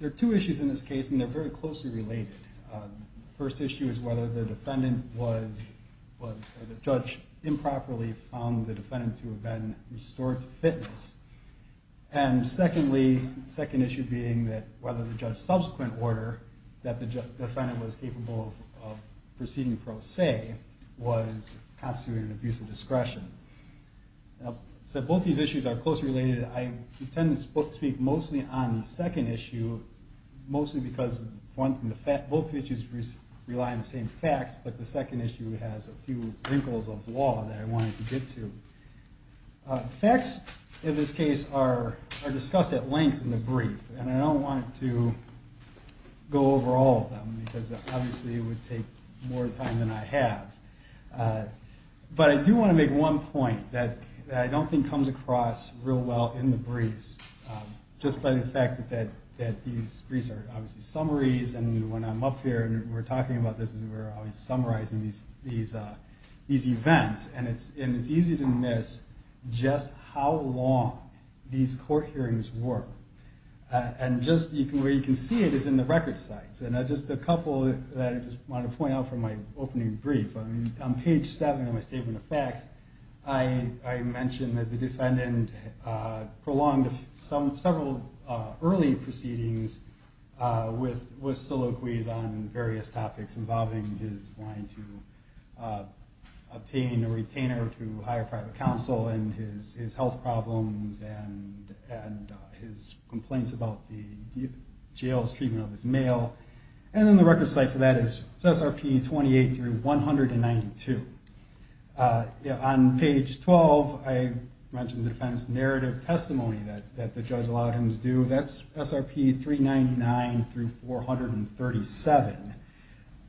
there are two issues in this case and they're very closely related. First issue is whether the defendant was judge improperly found the defendant to have been restored to fitness. And secondly, second issue being whether the judge's subsequent order that the defendant was capable of proceeding pro se was constituted an abuse of discretion. So both these issues are closely related. I intend to speak mostly on the second issue, mostly because both issues rely on the same facts, but the second issue has a few wrinkles of law that I wanted to get to. Facts in this case are discussed at length in the brief, and I don't want to go over all of them because obviously it would take more time than I have. But I do want to make one point that I don't think comes across real well in the briefs, just by the fact that these briefs are obviously summaries and when I'm up here and we're talking about this, we're always summarizing these events. And it's easy to miss just how long these court hearings were. And just where you can see it is in the record sites. And just a couple that I just wanted to point out from my opening brief. On page 7 of my Statement of Facts, I mentioned that the defendant prolonged several early proceedings with soliloquies on various topics involving his wanting to obtain a retainer to hire private counsel and his health problems and his complaints about the jail's treatment of his male. And then the record site for that is SRP 28-192. On page 12, I mentioned the defendant's narrative testimony that the judge allowed him to do. That's SRP 399-437.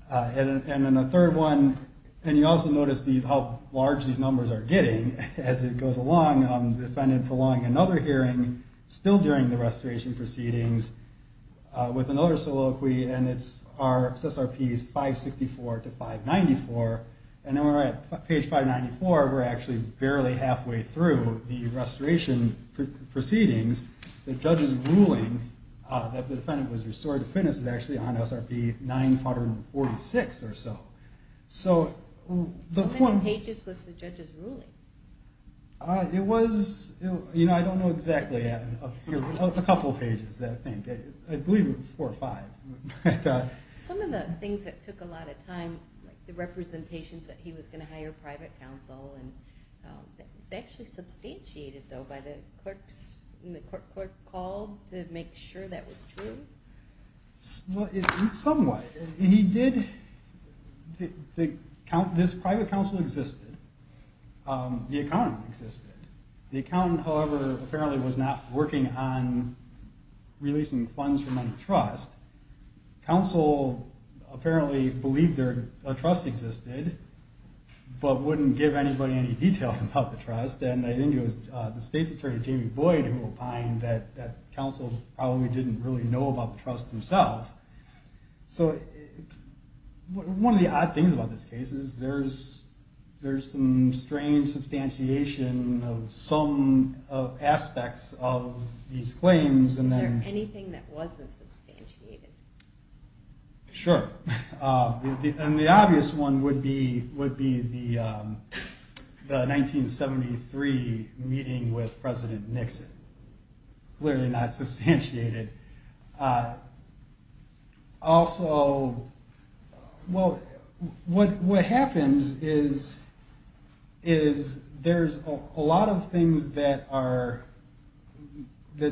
And then the third one, and you also notice how large these numbers are getting as it goes along, the defendant prolonging another hearing still during the restoration proceedings with another soliloquy and it's SRP 564-594. And then we're at page 594, we're actually barely halfway through the restoration proceedings. The judge's ruling that the defendant was restored to fitness is actually on How many pages was the judge's ruling? It was, I don't know exactly, a couple pages I think. I believe it was four or five. Some of the things that took a lot of time, like the representations that he was going to hire private counsel, was actually substantiated though by the clerks and the clerk called to make sure that was true? In some way. He did, this private counsel existed. The accountant existed. The accountant, however, apparently was not working on releasing funds trust. Counsel apparently believed a trust existed, but wouldn't give anybody any details about the trust. And I think it was the state's attorney, Jamie Boyd, who opined that counsel probably didn't really know about the trust himself. So one of the odd things about this case is there's some strange substantiation of some aspects of these claims. Is there anything that wasn't substantiated? Sure. And the obvious one would be the 1973 meeting with President Nixon. Clearly not substantiated. Also, well, what happens is there's a lot of things that the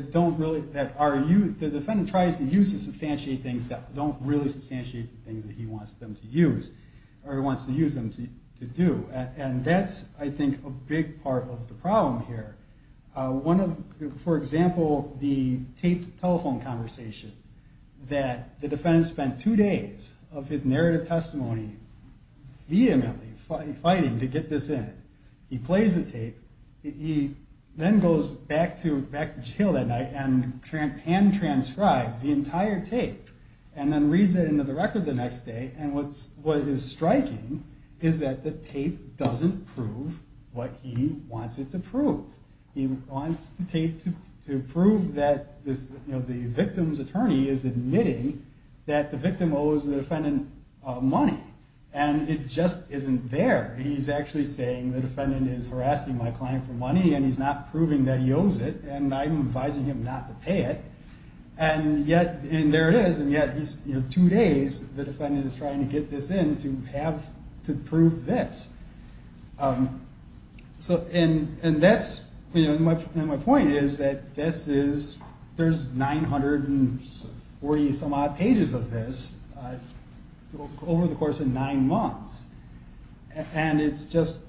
defendant tries to use to substantiate things that don't really substantiate the things that he wants them to use, or he wants to use them to do. And that's I think a big part of the problem here. For example, the taped telephone conversation that the defendant spent two days of his narrative testimony vehemently fighting to get this in. He plays the tape. He then goes back to jail that night and hand transcribes the entire tape and then reads it into the record the next day. And what is striking is that the tape doesn't prove what he wants it to prove. He wants the tape to prove that the victim's attorney is admitting that the victim owes the defendant money. And it just isn't there. He's actually saying the defendant is harassing my client for money and he's not proving that he owes it and I'm advising him not to pay it. And yet, and there it is, and yet he's, you know, two days the defendant is trying to get this in to have, to prove this. So, and that's, you know, my point is that this is, there's 940 some odd pages of this over the course of nine months. And it's just,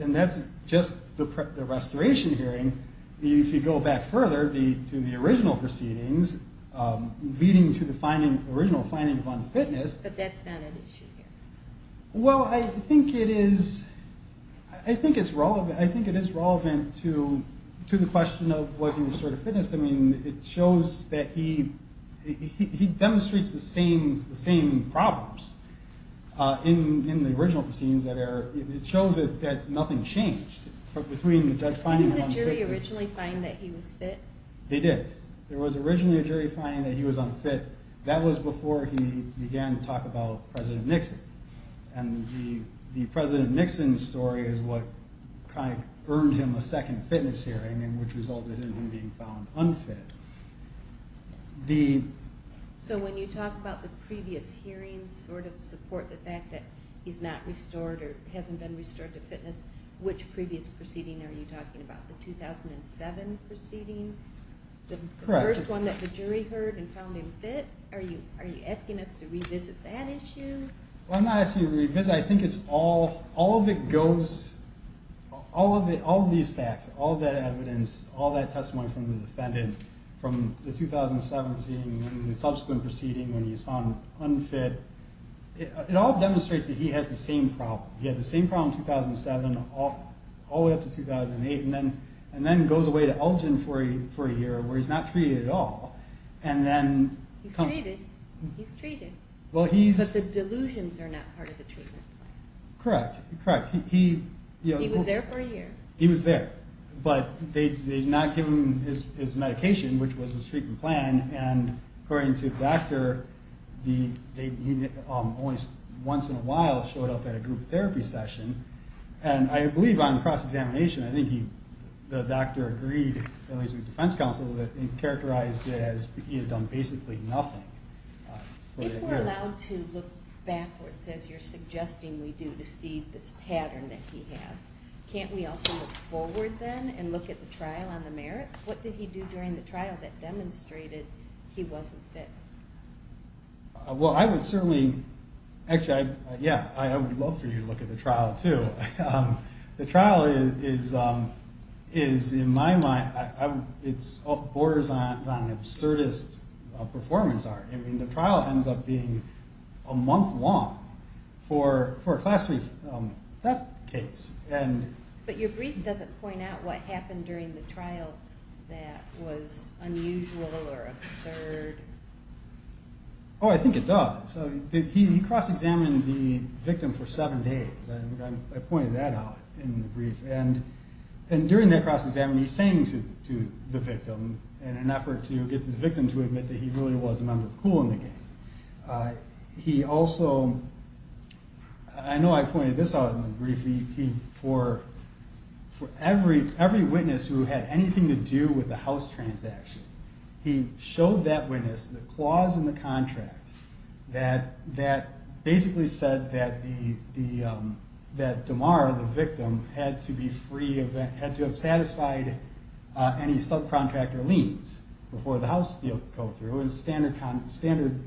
and that's just the restoration hearing. If you go back further to the original proceedings, leading to the original finding of unfitness. But that's not an issue here. Well, I think it is, I think it's relevant, I think it is relevant to the question of was he restored to fitness. I mean, it shows that he, he demonstrates the same problems in the original proceedings that are, it shows that nothing changed between the judge finding him unfit. Didn't the jury originally find that he was fit? They did. There was originally a jury finding that he was unfit. That was before he began to talk about President Nixon. And the President Nixon story is what kind of earned him a second fitness hearing and which resulted in him being found unfit. So when you talk about the previous hearings sort of support the fact that he's not restored or hasn't been restored to fitness, which previous proceeding are you talking about? The 2007 proceeding? Correct. The first one that the jury heard and found him fit? Are you asking us to revisit that issue? I'm not asking you to revisit it. I think it's all, all of it goes, all of these facts, all of that evidence, all that testimony from the defendant, from the 2007 proceeding and the subsequent proceeding when he was found unfit, it all demonstrates that he has the same problem. He had the same problem in 2007 all the way up to 2008 and then goes away to Elgin for a year where he's not treated at all. He's treated. He's treated. But the delusions are not part of the treatment plan. Correct, correct. He was there for a year. He was there, but they did not give him his medication, which was his treatment plan. And according to the doctor, he only once in a while showed up at a group therapy session. And I believe on cross-examination, I think the doctor agreed, at least with defense counsel, that he characterized it as he had done basically nothing. If we're allowed to look backwards, as you're suggesting we do, to see this pattern that he has, can't we also look forward then and look at the trial on the merits? What did he do during the trial that demonstrated he wasn't fit? Well, I would certainly, actually, yeah, I would love for you to look at the trial too. The trial is, in my mind, it borders on absurdist performance art. I mean, the trial ends up being a month long for a class 3 death case. But your brief doesn't point out what happened during the trial that was unusual or absurd. Oh, I think it does. He cross-examined the victim for seven days. I pointed that out in the brief. And during that cross-examination, he's saying to the victim, in an effort to get the victim to admit that he really was a member of COOL in the game. He also, I know I pointed this out in the brief, for every witness who had anything to do with the house transaction, he showed that witness the clause in the contract that basically said that Damar, the victim, had to have satisfied any subcontractor liens before the house deal could go through. It was a standard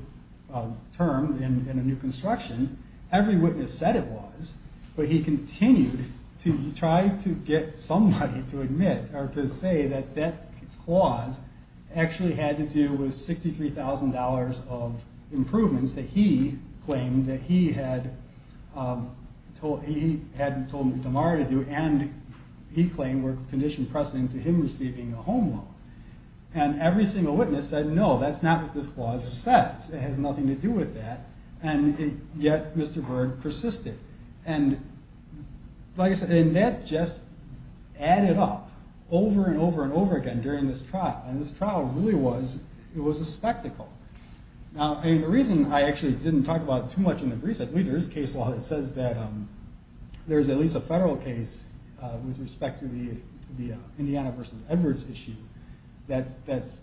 term in a new construction. Every witness said it was, but he continued to try to get somebody to admit or to say that that clause actually had to do with $63,000 of improvements that he claimed that he had told Damar to do, and he claimed were conditioned precedent to him receiving a home loan. And every single witness said, no, that's not what this clause says. It has nothing to do with that. And yet, Mr. Bird persisted. And like I said, that just added up over and over and over again during this trial. And this trial really was a spectacle. Now, the reason I actually didn't talk about it too much in the brief, there is case law that says that there's at least a federal case with respect to the Indiana v. Edwards issue. That's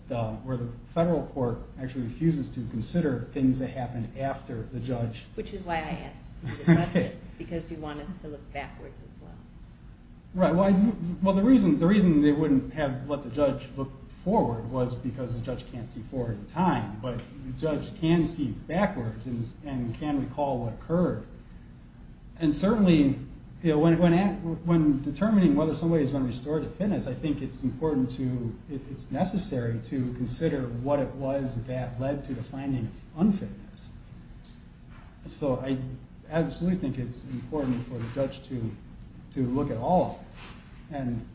where the federal court actually refuses to consider things that happen after the judge. Which is why I asked you to address it, because you want us to look backwards as well. Right. Well, the reason they wouldn't have let the judge look forward was because the judge can't see forward in time. But the judge can see backwards and can recall what occurred. And certainly, when determining whether somebody is going to be restored to fitness, I think it's important to, it's necessary to consider what it was that led to the finding of unfitness. So I absolutely think it's important for the judge to look at all of it.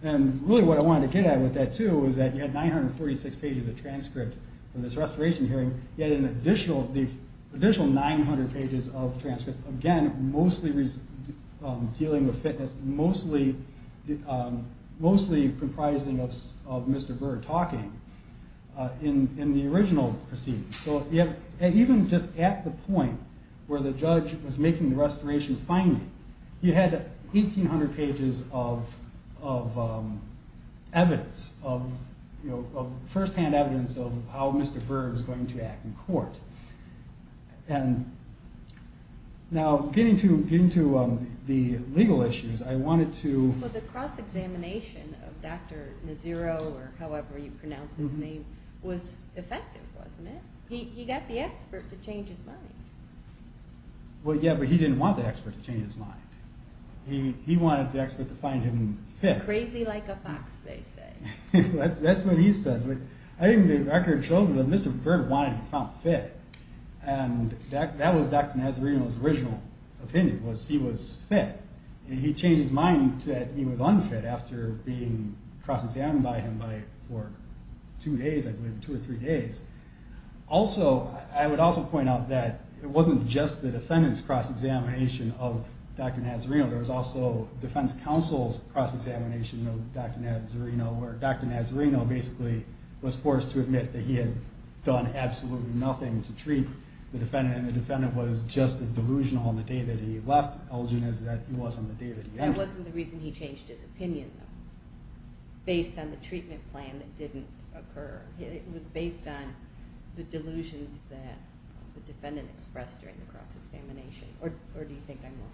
And really what I wanted to get at with that, too, was that you had 946 pages of transcript from this restoration hearing. You had an additional 900 pages of transcript, again, mostly dealing with fitness, mostly comprising of Mr. Burr talking in the original proceedings. So even just at the point where the judge was making the restoration finding, you had 1,800 pages of evidence, of first-hand evidence of how Mr. Burr was going to act in court. And now getting to the legal issues, I wanted to... Well, the cross-examination of Dr. Naziro, or however you pronounce his name, was effective, wasn't it? He got the expert to change his mind. Well, yeah, but he didn't want the expert to change his mind. He wanted the expert to find him fit. Crazy like a fox, they say. That's what he says. I think the record shows that Mr. Burr wanted him to find fit. And that was Dr. Nazirino's original opinion, was he was fit. And he changed his mind that he was unfit after being cross-examined by him for two days, I believe, two or three days. Also, I would also point out that it wasn't just the defendant's cross-examination of Dr. Nazirino. There was also defense counsel's cross-examination of Dr. Nazirino, where Dr. Nazirino basically was forced to admit that he had done absolutely nothing to treat the defendant. And the defendant was just as delusional on the day that he left Elgin as he was on the day that he entered. That wasn't the reason he changed his opinion, though, based on the treatment plan that didn't occur. It was based on the delusions that the defendant expressed during the cross-examination. Or do you think I'm wrong?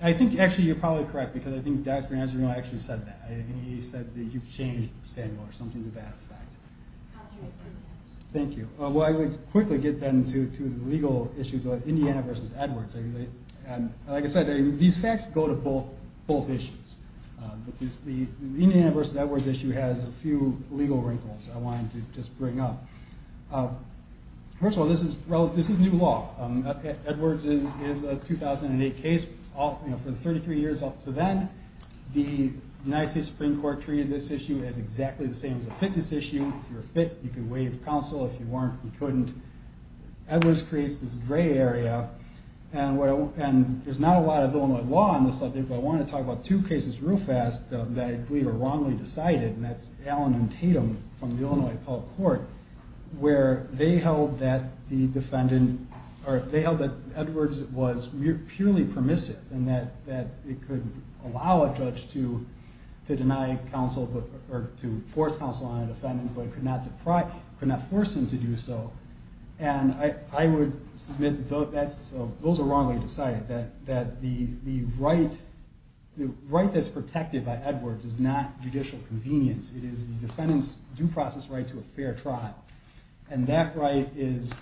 I think, actually, you're probably correct, because I think Dr. Nazirino actually said that. He said that you've changed, Samuel, or something to that effect. How did you agree to that? Thank you. Well, I would quickly get, then, to the legal issues of Indiana v. Edwards. Like I said, these facts go to both issues. But the Indiana v. Edwards issue has a few legal wrinkles I wanted to just bring up. First of all, this is new law. Edwards is a 2008 case. For the 33 years up to then, the United States Supreme Court treated this issue as exactly the same as a fitness issue. If you're fit, you can waive counsel. If you weren't, you couldn't. Edwards creates this gray area, and there's not a lot of Illinois law on this subject, but I wanted to talk about two cases real fast that I believe are wrongly decided, and that's Allen v. Tatum from the Illinois Appellate Court, where they held that Edwards was purely permissive and that it could allow a judge to force counsel on a defendant but could not force him to do so. And I would submit that those are wrongly decided, that the right that's protected by Edwards is not judicial convenience. It is the defendant's due process right to a fair trial. And that right is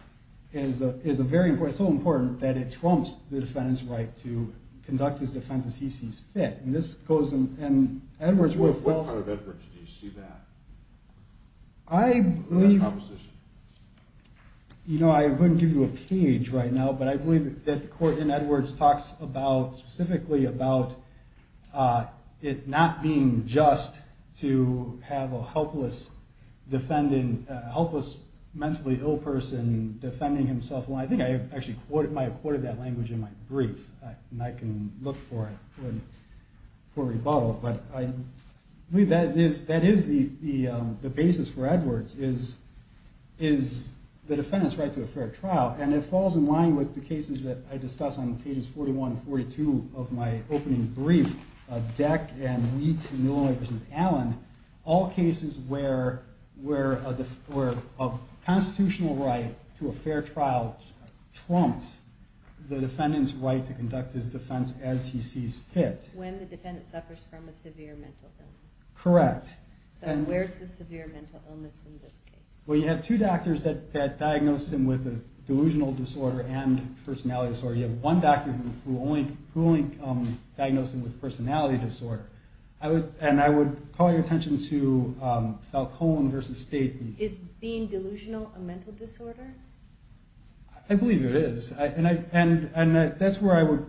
so important that it trumps the defendant's right to conduct his defense as he sees fit. And this goes in— What part of Edwards do you see that? I believe— That composition. You know, I wouldn't give you a page right now, but I believe that the court in Edwards talks specifically about it not being just to have a helpless mentally ill person defending himself. And I think I actually might have quoted that language in my brief, and I can look for it for rebuttal, but I believe that is the basis for Edwards, is the defendant's right to a fair trial. And it falls in line with the cases that I discuss on pages 41 and 42 of my opening brief, Deck and Wheat v. Allen, all cases where a constitutional right to a fair trial trumps the defendant's right to conduct his defense as he sees fit. When the defendant suffers from a severe mental illness. Correct. So where's the severe mental illness in this case? Well, you have two doctors that diagnose him with a delusional disorder and personality disorder. You have one doctor who only diagnosed him with personality disorder. And I would call your attention to Falcone v. State. Is being delusional a mental disorder? I believe it is. And that's where I would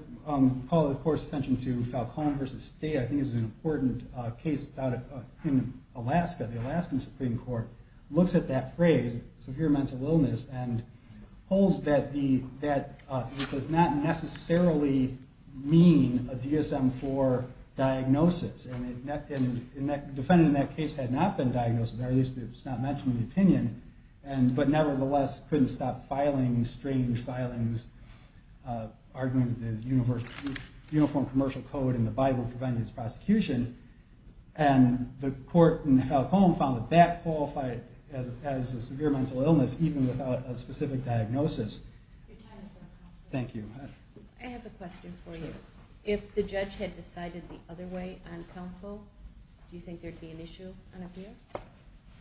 call, of course, attention to Falcone v. State. I think it's an important case that's out in Alaska. The Alaskan Supreme Court looks at that phrase, severe mental illness, and holds that it does not necessarily mean a DSM-IV diagnosis. And the defendant in that case had not been diagnosed, or at least it's not mentioned in the opinion, but nevertheless couldn't stop filing strange filings, arguing the Uniform Commercial Code and the Bible prevented his prosecution. And the court in Falcone found that that qualified as a severe mental illness, even without a specific diagnosis. Your time is up. Thank you. I have a question for you. Sure. If the judge had decided the other way on counsel, do you think there would be an issue on appeal?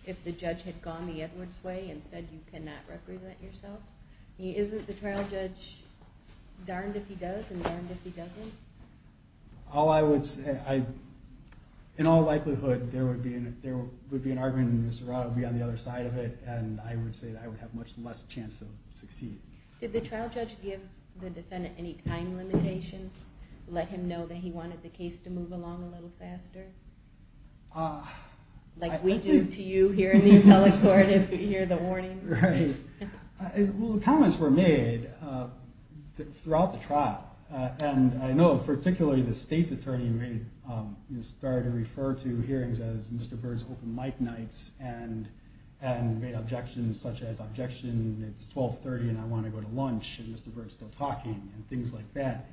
If the judge had gone the Edwards way and said you cannot represent yourself, isn't the trial judge darned if he does and darned if he doesn't? All I would say, in all likelihood, there would be an argument, and Mr. Rod would be on the other side of it, and I would say that I would have much less chance of succeeding. Did the trial judge give the defendant any time limitations, let him know that he wanted the case to move along a little faster, like we do to you here in the appellate court if you hear the warning? Right. Well, comments were made throughout the trial, and I know particularly the state's attorney started to refer to hearings as Mr. Bird's open mic nights and made objections such as, objection, it's 1230 and I want to go to lunch, and Mr. Bird's still talking and things like that.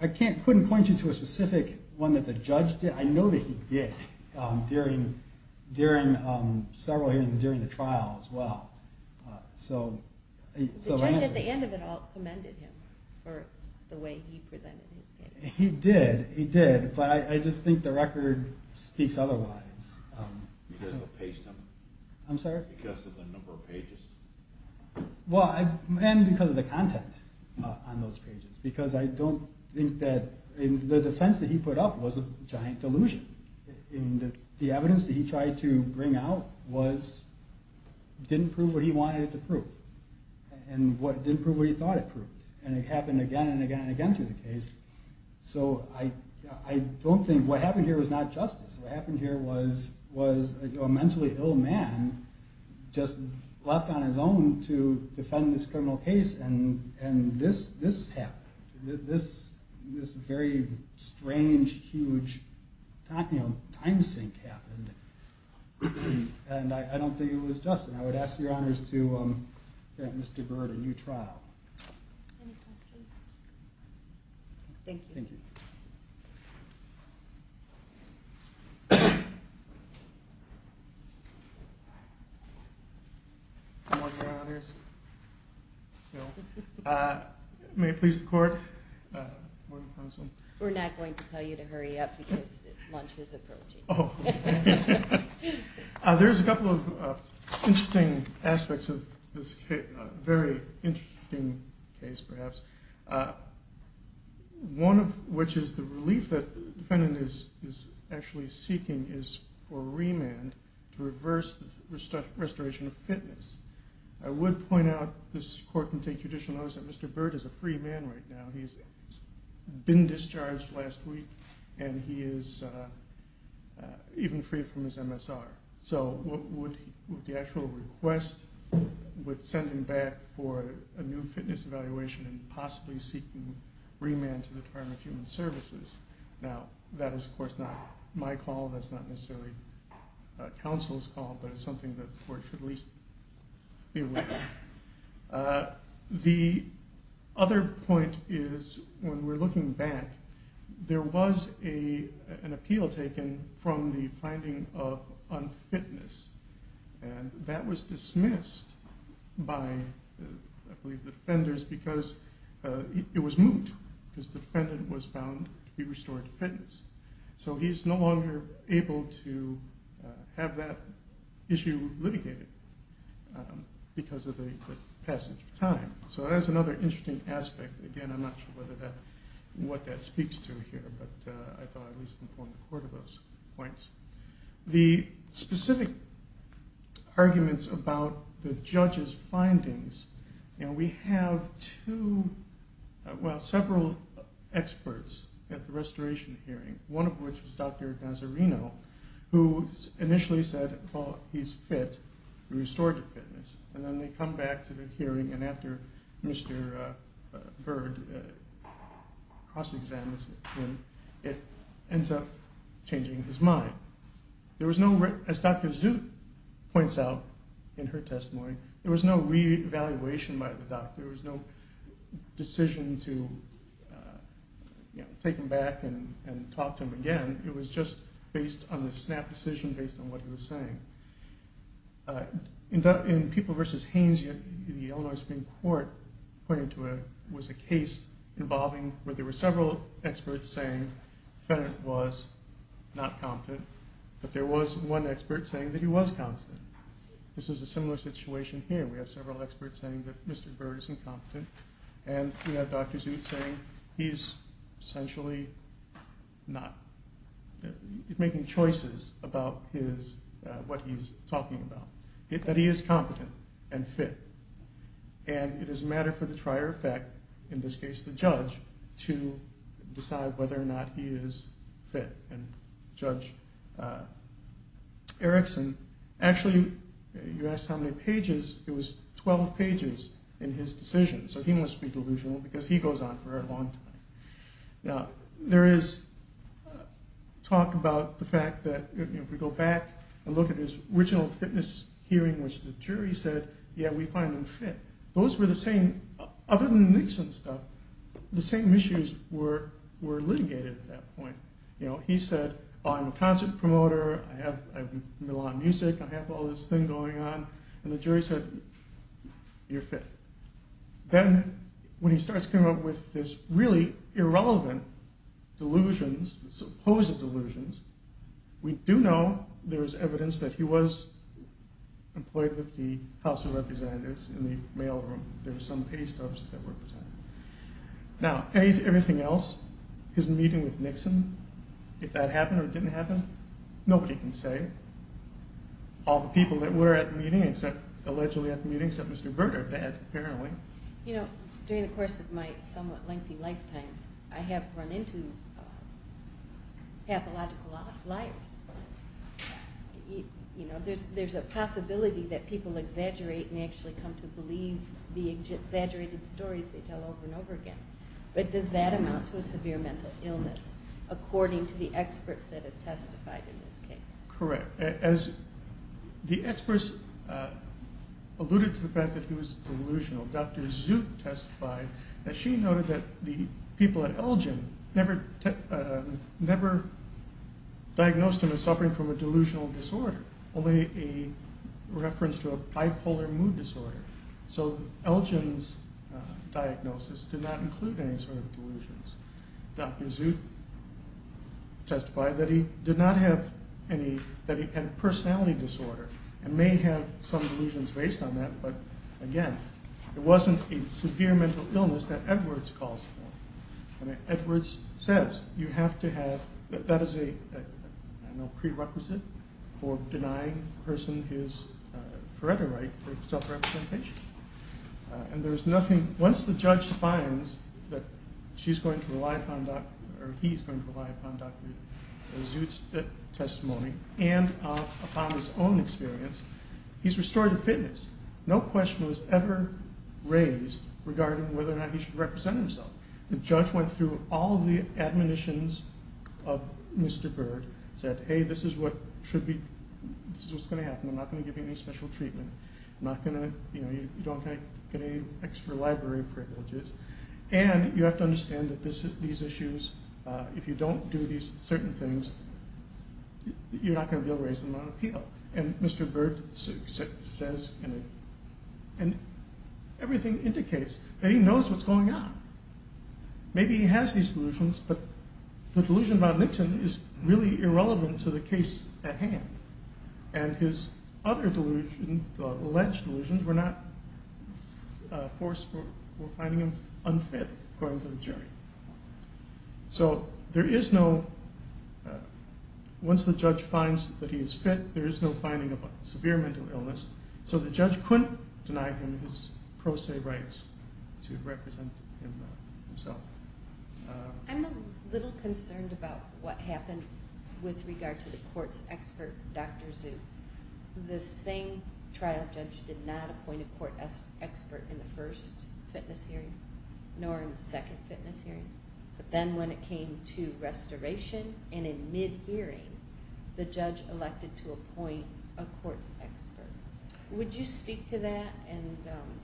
I couldn't point you to a specific one that the judge did. I know that he did during several hearings during the trial as well. The judge at the end of it all commended him for the way he presented his case. He did, he did, but I just think the record speaks otherwise. Because of the page number. I'm sorry? Because of the number of pages. Well, and because of the content on those pages, because I don't think that, the defense that he put up was a giant delusion. The evidence that he tried to bring out didn't prove what he wanted it to prove. And it didn't prove what he thought it proved. And it happened again and again and again through the case. So I don't think, what happened here was not justice. What happened here was a mentally ill man just left on his own to defend this criminal case, and this happened. This very strange, huge time sink happened. And I don't think it was just. And I would ask your honors to grant Mr. Bird a new trial. Any questions? Thank you. Thank you. Any more questions? No. May it please the court? We're not going to tell you to hurry up because lunch is approaching. Oh. There's a couple of interesting aspects of this case, a very interesting case perhaps. One of which is the relief that the defendant is actually seeking is for remand to reverse the restoration of fitness. I would point out, this court can take judicial notice, that Mr. Bird is a free man right now. He's been discharged last week, and he is even free from his MSR. So would the actual request would send him back for a new fitness evaluation and possibly seeking remand to the Department of Human Services. Now, that is, of course, not my call. That's not necessarily counsel's call, but it's something that the court should at least be aware of. The other point is when we're looking back, there was an appeal taken from the finding of unfitness, and that was dismissed by, I believe, the defenders because it was moot, because the defendant was found to be restored to fitness. So he's no longer able to have that issue litigated because of the passage of time. So that's another interesting aspect. Again, I'm not sure what that speaks to here, but I thought I'd at least employ the court of those points. The specific arguments about the judge's findings, we have two, well, several experts at the restoration hearing, one of which is Dr. Nazarino, who initially said he's fit and restored to fitness. And then they come back to the hearing, and after Mr. Bird cross-examines him, it ends up changing his mind. As Dr. Zoot points out in her testimony, there was no reevaluation by the doctor. There was no decision to take him back and talk to him again. It was just based on the snap decision based on what he was saying. In People v. Haynes, the Illinois Supreme Court pointed to a case involving where there were several experts saying the defendant was not competent, but there was one expert saying that he was competent. This is a similar situation here. We have several experts saying that Mr. Bird is incompetent, and we have Dr. Zoot saying he's essentially not making choices about what he's talking about, that he is competent and fit. And it is a matter for the trier of fact, in this case the judge, to decide whether or not he is fit. And Judge Erickson, actually, you asked how many pages, it was 12 pages in his decision. So he must be delusional because he goes on for a long time. Now, there is talk about the fact that if we go back and look at his original fitness hearing, which the jury said, yeah, we find him fit. Those were the same, other than the Nixon stuff, the same issues were litigated at that point. He said, I'm a concert promoter, I have a lot of music, I have all this thing going on, and the jury said, you're fit. Then when he starts coming up with this really irrelevant delusions, supposed delusions, we do know there is evidence that he was employed with the House of Representatives in the mail room. There were some pay stubs that were present. Now, everything else, his meeting with Nixon, if that happened or didn't happen, nobody can say. All the people that were at the meeting, except Mr. Berger apparently. You know, during the course of my somewhat lengthy lifetime, I have run into pathological liars. There's a possibility that people exaggerate and actually come to believe the exaggerated stories they tell over and over again, but does that amount to a severe mental illness, according to the experts that have testified in this case? Correct. As the experts alluded to the fact that he was delusional, Dr. Zoot testified that she noted that the people at Elgin never diagnosed him as suffering from a delusional disorder, only a reference to a bipolar mood disorder. So Elgin's diagnosis did not include any sort of delusions. Dr. Zoot testified that he did not have any, that he had a personality disorder and may have some delusions based on that, but again, it wasn't a severe mental illness that Edwards calls for. Edwards says you have to have, that is a prerequisite for denying a person his right to self-representation. And there's nothing, once the judge finds that she's going to rely upon Dr., or he's going to rely upon Dr. Zoot's testimony and upon his own experience, he's restored to fitness. No question was ever raised regarding whether or not he should represent himself. The judge went through all the admonitions of Mr. Bird, said hey, this is what should be, this is what's going to happen, I'm not going to give you any special treatment. I'm not going to, you know, you don't get any extra library privileges. And you have to understand that these issues, if you don't do these certain things, you're not going to be able to raise them on appeal. And Mr. Bird says, and everything indicates that he knows what's going on. Maybe he has these delusions, but the delusion about Nixon is really irrelevant to the case at hand. And his other delusions, alleged delusions, were not forced, were finding him unfit according to the jury. So there is no, once the judge finds that he is fit, there is no finding of severe mental illness. So the judge couldn't deny him his pro se rights to represent himself. I'm a little concerned about what happened with regard to the court's expert, Dr. Zhu. The same trial judge did not appoint a court expert in the first fitness hearing, nor in the second fitness hearing. But then when it came to restoration, and in mid-hearing, the judge elected to appoint a court's expert. Would you speak to that? And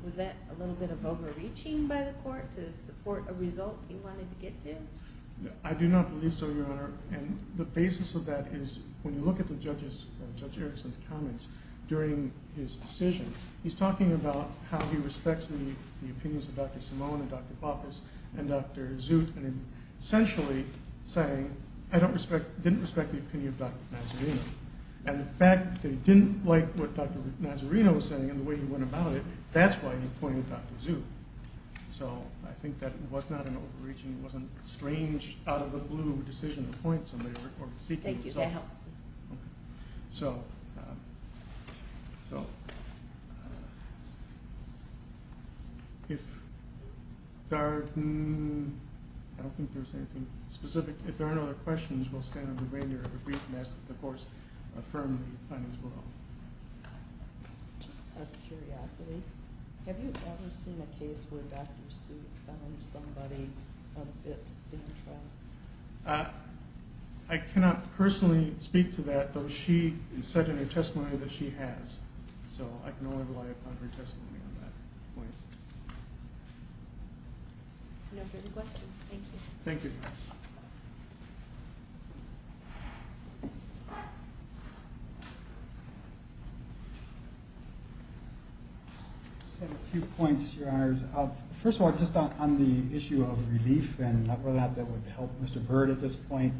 was that a little bit of overreaching by the court to support a result he wanted to get to? I do not believe so, Your Honor. And the basis of that is, when you look at Judge Erickson's comments during his decision, he's talking about how he respects the opinions of Dr. Simone and Dr. Baucus and Dr. Zut, and essentially saying, I didn't respect the opinion of Dr. Mazzarino. And the fact that he didn't like what Dr. Mazzarino was saying and the way he went about it, that's why he appointed Dr. Zhu. So I think that was not an overreaching, it wasn't a strange, out-of-the-blue decision to appoint somebody or seek a result. Thank you, that helps me. So, if there are, I don't think there's anything specific. If there aren't other questions, we'll stand on the reindeer of a brief and ask that the courts affirm the findings below. Just out of curiosity, have you ever seen a case where Dr. Zut found somebody unfit to stand trial? I cannot personally speak to that, though she said in her testimony that she has. So I can only rely upon her testimony on that point. If there are no further questions, thank you. Thank you. I just have a few points, Your Honors. First of all, just on the issue of relief and whether or not that would help Mr. Byrd at this point.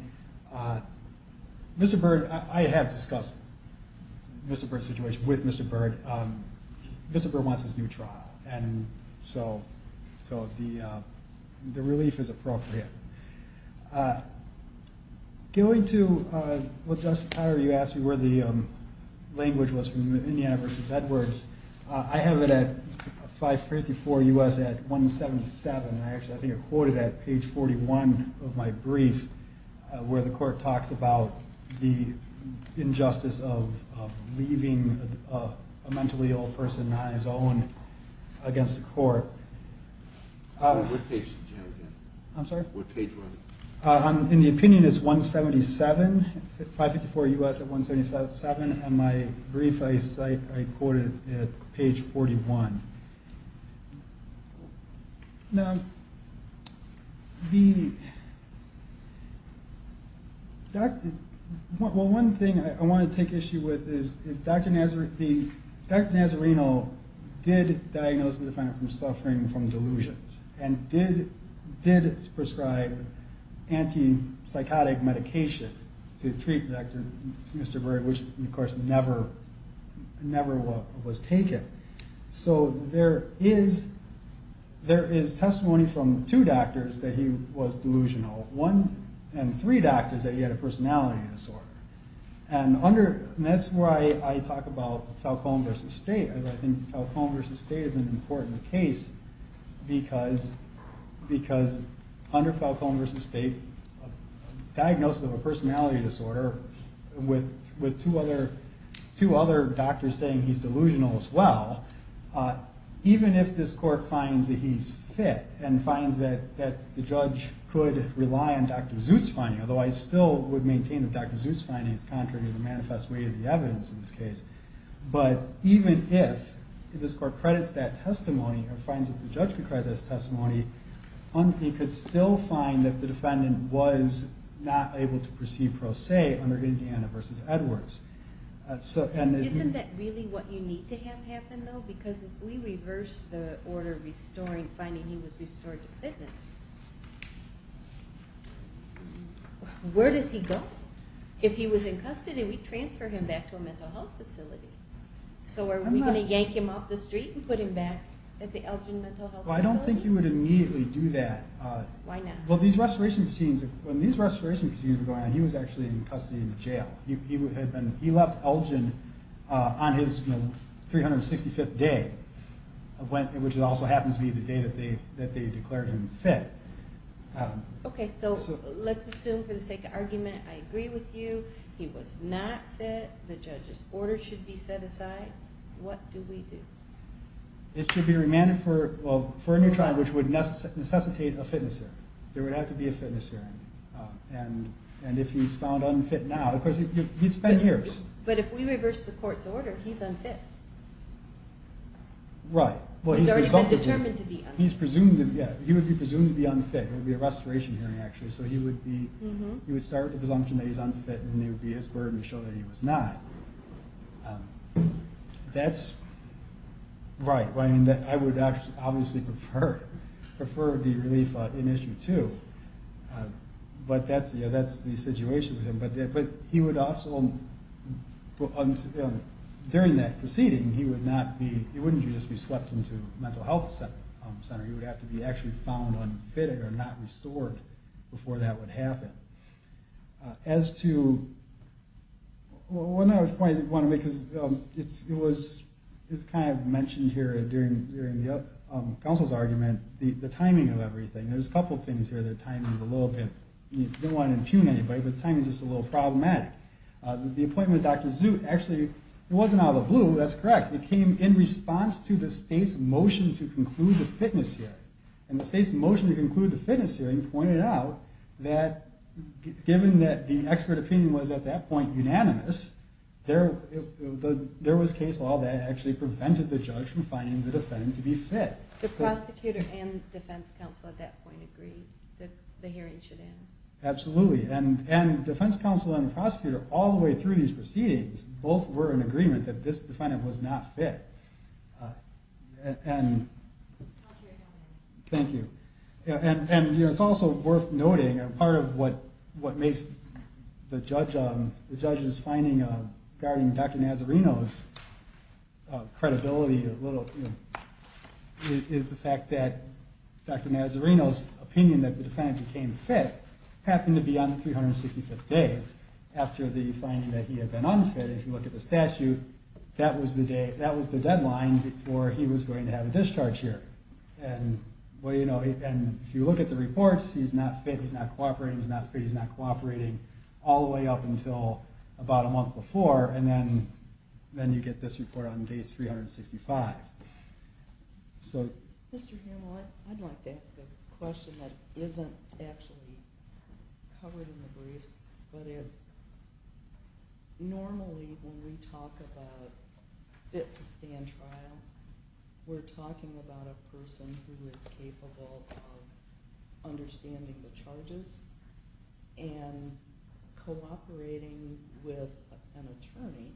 Mr. Byrd, I have discussed the Mr. Byrd situation with Mr. Byrd. Mr. Byrd wants his new trial. So the relief is appropriate. Going to what Dr. Steyer, you asked me where the language was from Indiana v. Edwards. I have it at 554 U.S. at 177. I think I quoted at page 41 of my brief where the court talks about the injustice of leaving a mentally ill person on his own against the court. What page did you have it in? I'm sorry? What page was it? In the opinion it's 177, 554 U.S. at 177. On my brief, I quote it at page 41. Now, one thing I want to take issue with is Dr. Nazarino did diagnose the defendant from suffering from delusions. And did prescribe anti-psychotic medication to treat Mr. Byrd, which of course never was taken. So there is testimony from two doctors that he was delusional. One and three doctors that he had a personality disorder. And that's why I talk about Falcone v. State. I think Falcone v. State is an important case because under Falcone v. State, diagnosis of a personality disorder with two other doctors saying he's delusional as well, even if this court finds that he's fit and finds that the judge could rely on Dr. Zutz finding, although I still would maintain that Dr. Zutz finding is contrary to the manifest way of the evidence in this case, but even if this court credits that testimony or finds that the judge could credit that testimony, he could still find that the defendant was not able to perceive pro se under Indiana v. Edwards. Isn't that really what you need to have happen though? Because if we reverse the order finding he was restored to fitness, where does he go? If he was in custody, we transfer him back to a mental health facility. So are we going to yank him off the street and put him back at the Elgin Mental Health Facility? Well, I don't think you would immediately do that. Why not? Well, when these restoration proceedings were going on, he was actually in custody in jail. He left Elgin on his 365th day, which also happens to be the day that they declared him fit. Okay, so let's assume for the sake of argument I agree with you. He was not fit. The judge's order should be set aside. What do we do? It should be remanded for a new trial, which would necessitate a fitness hearing. There would have to be a fitness hearing. And if he's found unfit now, of course, he'd spend years. But if we reverse the court's order, he's unfit. Right. He's already been determined to be unfit. He would be presumed to be unfit. It would be a restoration hearing, actually. So he would start with the presumption that he's unfit, and then it would be his burden to show that he was not. That's right. I would obviously prefer the relief in Issue 2. But that's the situation with him. But he would also, during that proceeding, he would not be, he wouldn't just be swept into a mental health center. He would have to be actually found unfit or not restored before that would happen. As to, one other point I want to make, because it's kind of mentioned here during the counsel's argument, the timing of everything. There's a couple things here. The timing's a little bit, you don't want to impugn anybody, but the timing's just a little problematic. The appointment with Dr. Zoot, actually, it wasn't out of the blue. That's correct. It came in response to the state's motion to conclude the fitness hearing. And the state's motion to conclude the fitness hearing pointed out that, given that the expert opinion was, at that point, unanimous, there was case law that actually prevented the judge from finding the defendant to be fit. So the prosecutor and defense counsel at that point agreed that the hearing should end. Absolutely. And defense counsel and the prosecutor, all the way through these proceedings, both were in agreement that this defendant was not fit. And thank you. And it's also worth noting, and part of what makes the judge's finding regarding Dr. Nazarino's credibility a little, is the fact that Dr. Nazarino's opinion that the defendant became fit happened to be on the 365th day after the finding that he had been unfit. If you look at the statute, that was the deadline before he was going to have a discharge here. And if you look at the reports, he's not fit, he's not cooperating, he's not fit, he's not cooperating, all the way up until about a month before, and then you get this report on day 365. Mr. Hamel, I'd like to ask a question that isn't actually covered in the briefs, but it's normally when we talk about fit-to-stand trial, we're talking about a person who is capable of understanding the charges and cooperating with an attorney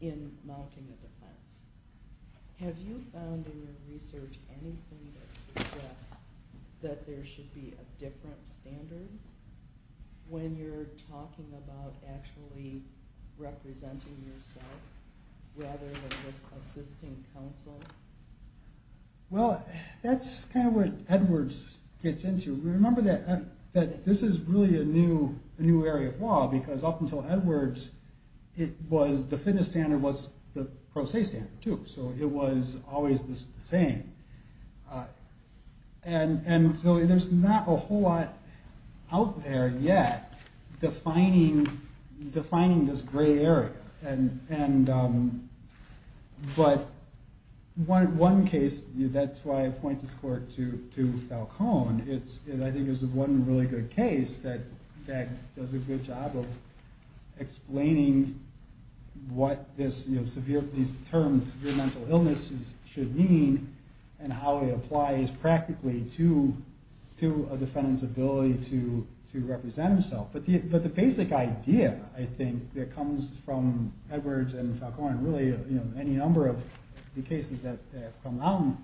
in mounting a defense. Have you found in your research anything that suggests that there should be a different standard when you're talking about actually representing yourself, rather than just assisting counsel? Well, that's kind of what Edwards gets into. Remember that this is really a new area of law, because up until Edwards, the fitness standard was the pro se standard, too, so it was always the same. And so there's not a whole lot out there yet defining this gray area. But one case, that's why I point this court to Falcone, I think is one really good case that does a good job of explaining what this term, severe mental illness, should mean, and how it applies practically to a defendant's ability to represent himself. But the basic idea, I think, that comes from Edwards and Falcone, and really any number of the cases that have come out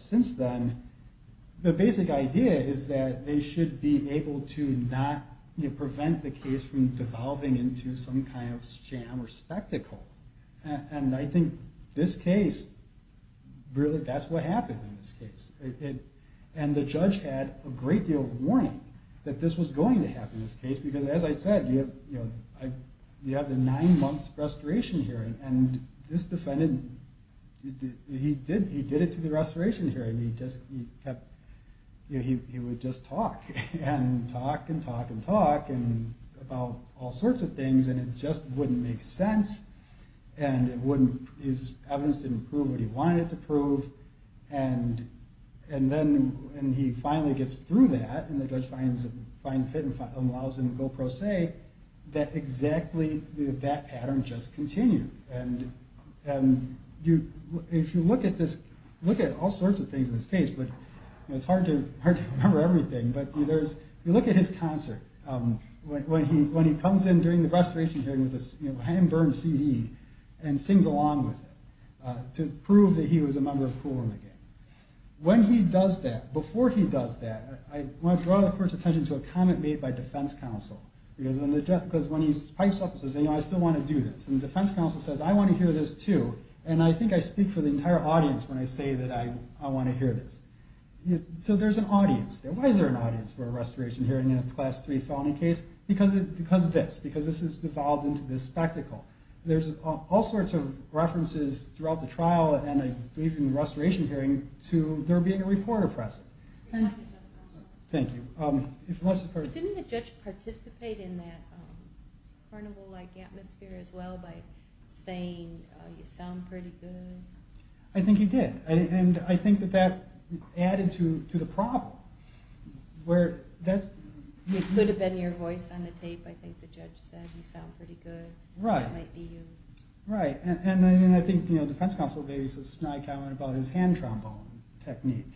since then, the basic idea is that they should be able to not prevent the case from devolving into some kind of sham or spectacle. And I think this case, that's what happened in this case. And the judge had a great deal of warning that this was going to happen in this case, because as I said, you have the nine months restoration hearing, and this defendant, he did it to the restoration hearing, he would just talk, and talk and talk and talk about all sorts of things, and it just wouldn't make sense, and his evidence didn't prove what he wanted it to prove, and then he finally gets through that, and the judge finds fit and allows him to go pro se, that exactly, that pattern just continued. And if you look at this, look at all sorts of things in this case, it's hard to remember everything, but if you look at his concert, when he comes in during the restoration hearing with this hand-burned CD, and sings along with it, to prove that he was a member of Kool and the Gang. When he does that, before he does that, I want to draw the court's attention to a comment made by defense counsel, because when he pipes up and says, you know, I still want to do this, and the defense counsel says, I want to hear this too, and I think I speak for the entire audience when I say that I want to hear this. So there's an audience there. Why is there an audience for a restoration hearing in a Class III felony case? Because of this, because this is devolved into this spectacle. There's all sorts of references throughout the trial, and I believe in the restoration hearing, to there being a reporter present. Thank you. Didn't the judge participate in that carnival-like atmosphere as well, by saying, you sound pretty good? I think he did, and I think that that added to the problem. It could have been your voice on the tape, I think the judge said, you sound pretty good, that might be you. Right, and I think defense counsel made a snide comment about his hand trombone technique.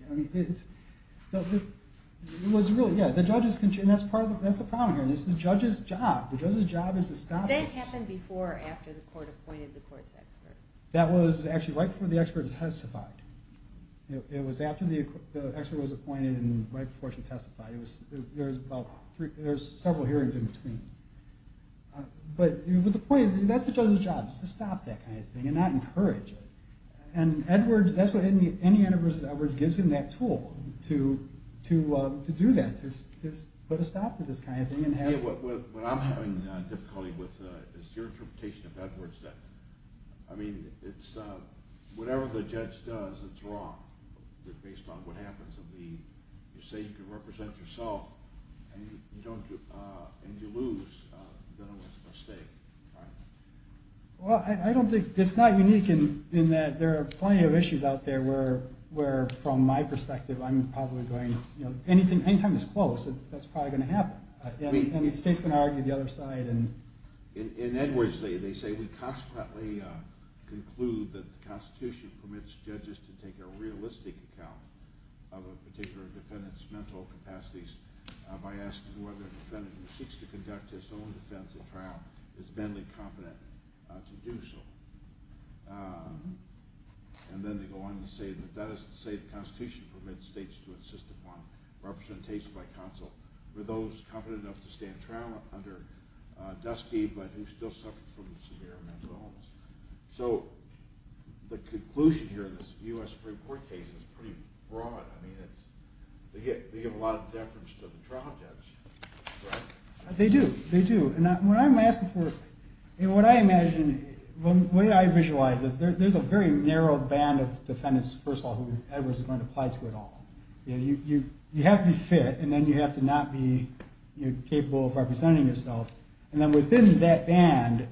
It was really, yeah, the judge's, and that's the problem here, it's the judge's job, the judge's job is to stop this. That happened before or after the court appointed the court's expert. That was actually right before the expert was testified. It was after the expert was appointed and right before she testified. There was several hearings in between. But the point is, that's the judge's job, is to stop that kind of thing and not encourage it. And Edwards, that's what any interview with Edwards gives him, that tool to do that, to put a stop to this kind of thing. Yeah, what I'm having difficulty with is your interpretation of Edwards. I mean, it's whatever the judge does that's wrong, based on what happens. You say you can represent yourself, and you lose, then it was a mistake. Well, I don't think, it's not unique in that there are plenty of issues out there where, from my perspective, I'm probably going, anytime it's close, that's probably going to happen. And the state's going to argue the other side. In Edwards, they say, we consequently conclude that the Constitution permits judges to take a realistic account of a particular defendant's mental capacities by asking whether a defendant who seeks to conduct his own defense at trial is manly competent to do so. And then they go on to say that that is to say the Constitution permits states to insist upon representation by counsel for those competent enough to stand trial under dusky, but who still suffer from severe mental illness. So the conclusion here in this U.S. Supreme Court case is pretty broad. I mean, they give a lot of deference to the trial judge. They do, they do. What I imagine, the way I visualize this, there's a very narrow band of defendants, first of all, who Edwards is going to apply to at all. You have to be fit, and then you have to not be capable of representing yourself. And then within that band,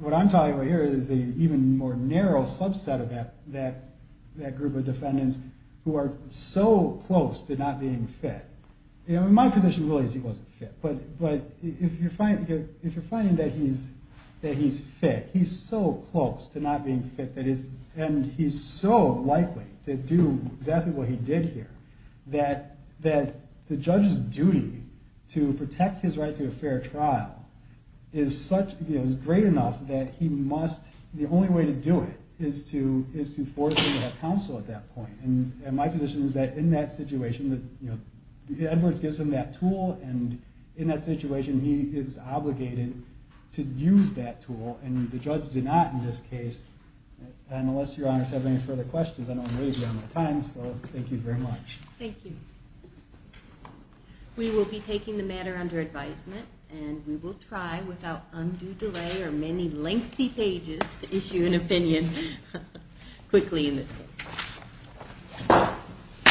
what I'm talking about here is an even more narrow subset of that group of defendants who are so close to not being fit. My position really is he wasn't fit. But if you're finding that he's fit, he's so close to not being fit, and he's so likely to do exactly what he did here, that the judge's duty to protect his right to a fair trial is great enough that he must, the only way to do it is to force him to have counsel at that point. And my position is that in that situation, Edwards gives him that tool, and in that situation, he is obligated to use that tool. And the judge did not in this case. And unless Your Honors have any further questions, I don't really have much time. So thank you very much. Thank you. We will be taking the matter under advisement, and we will try without undue delay or many lengthy pages to issue an opinion quickly in this case.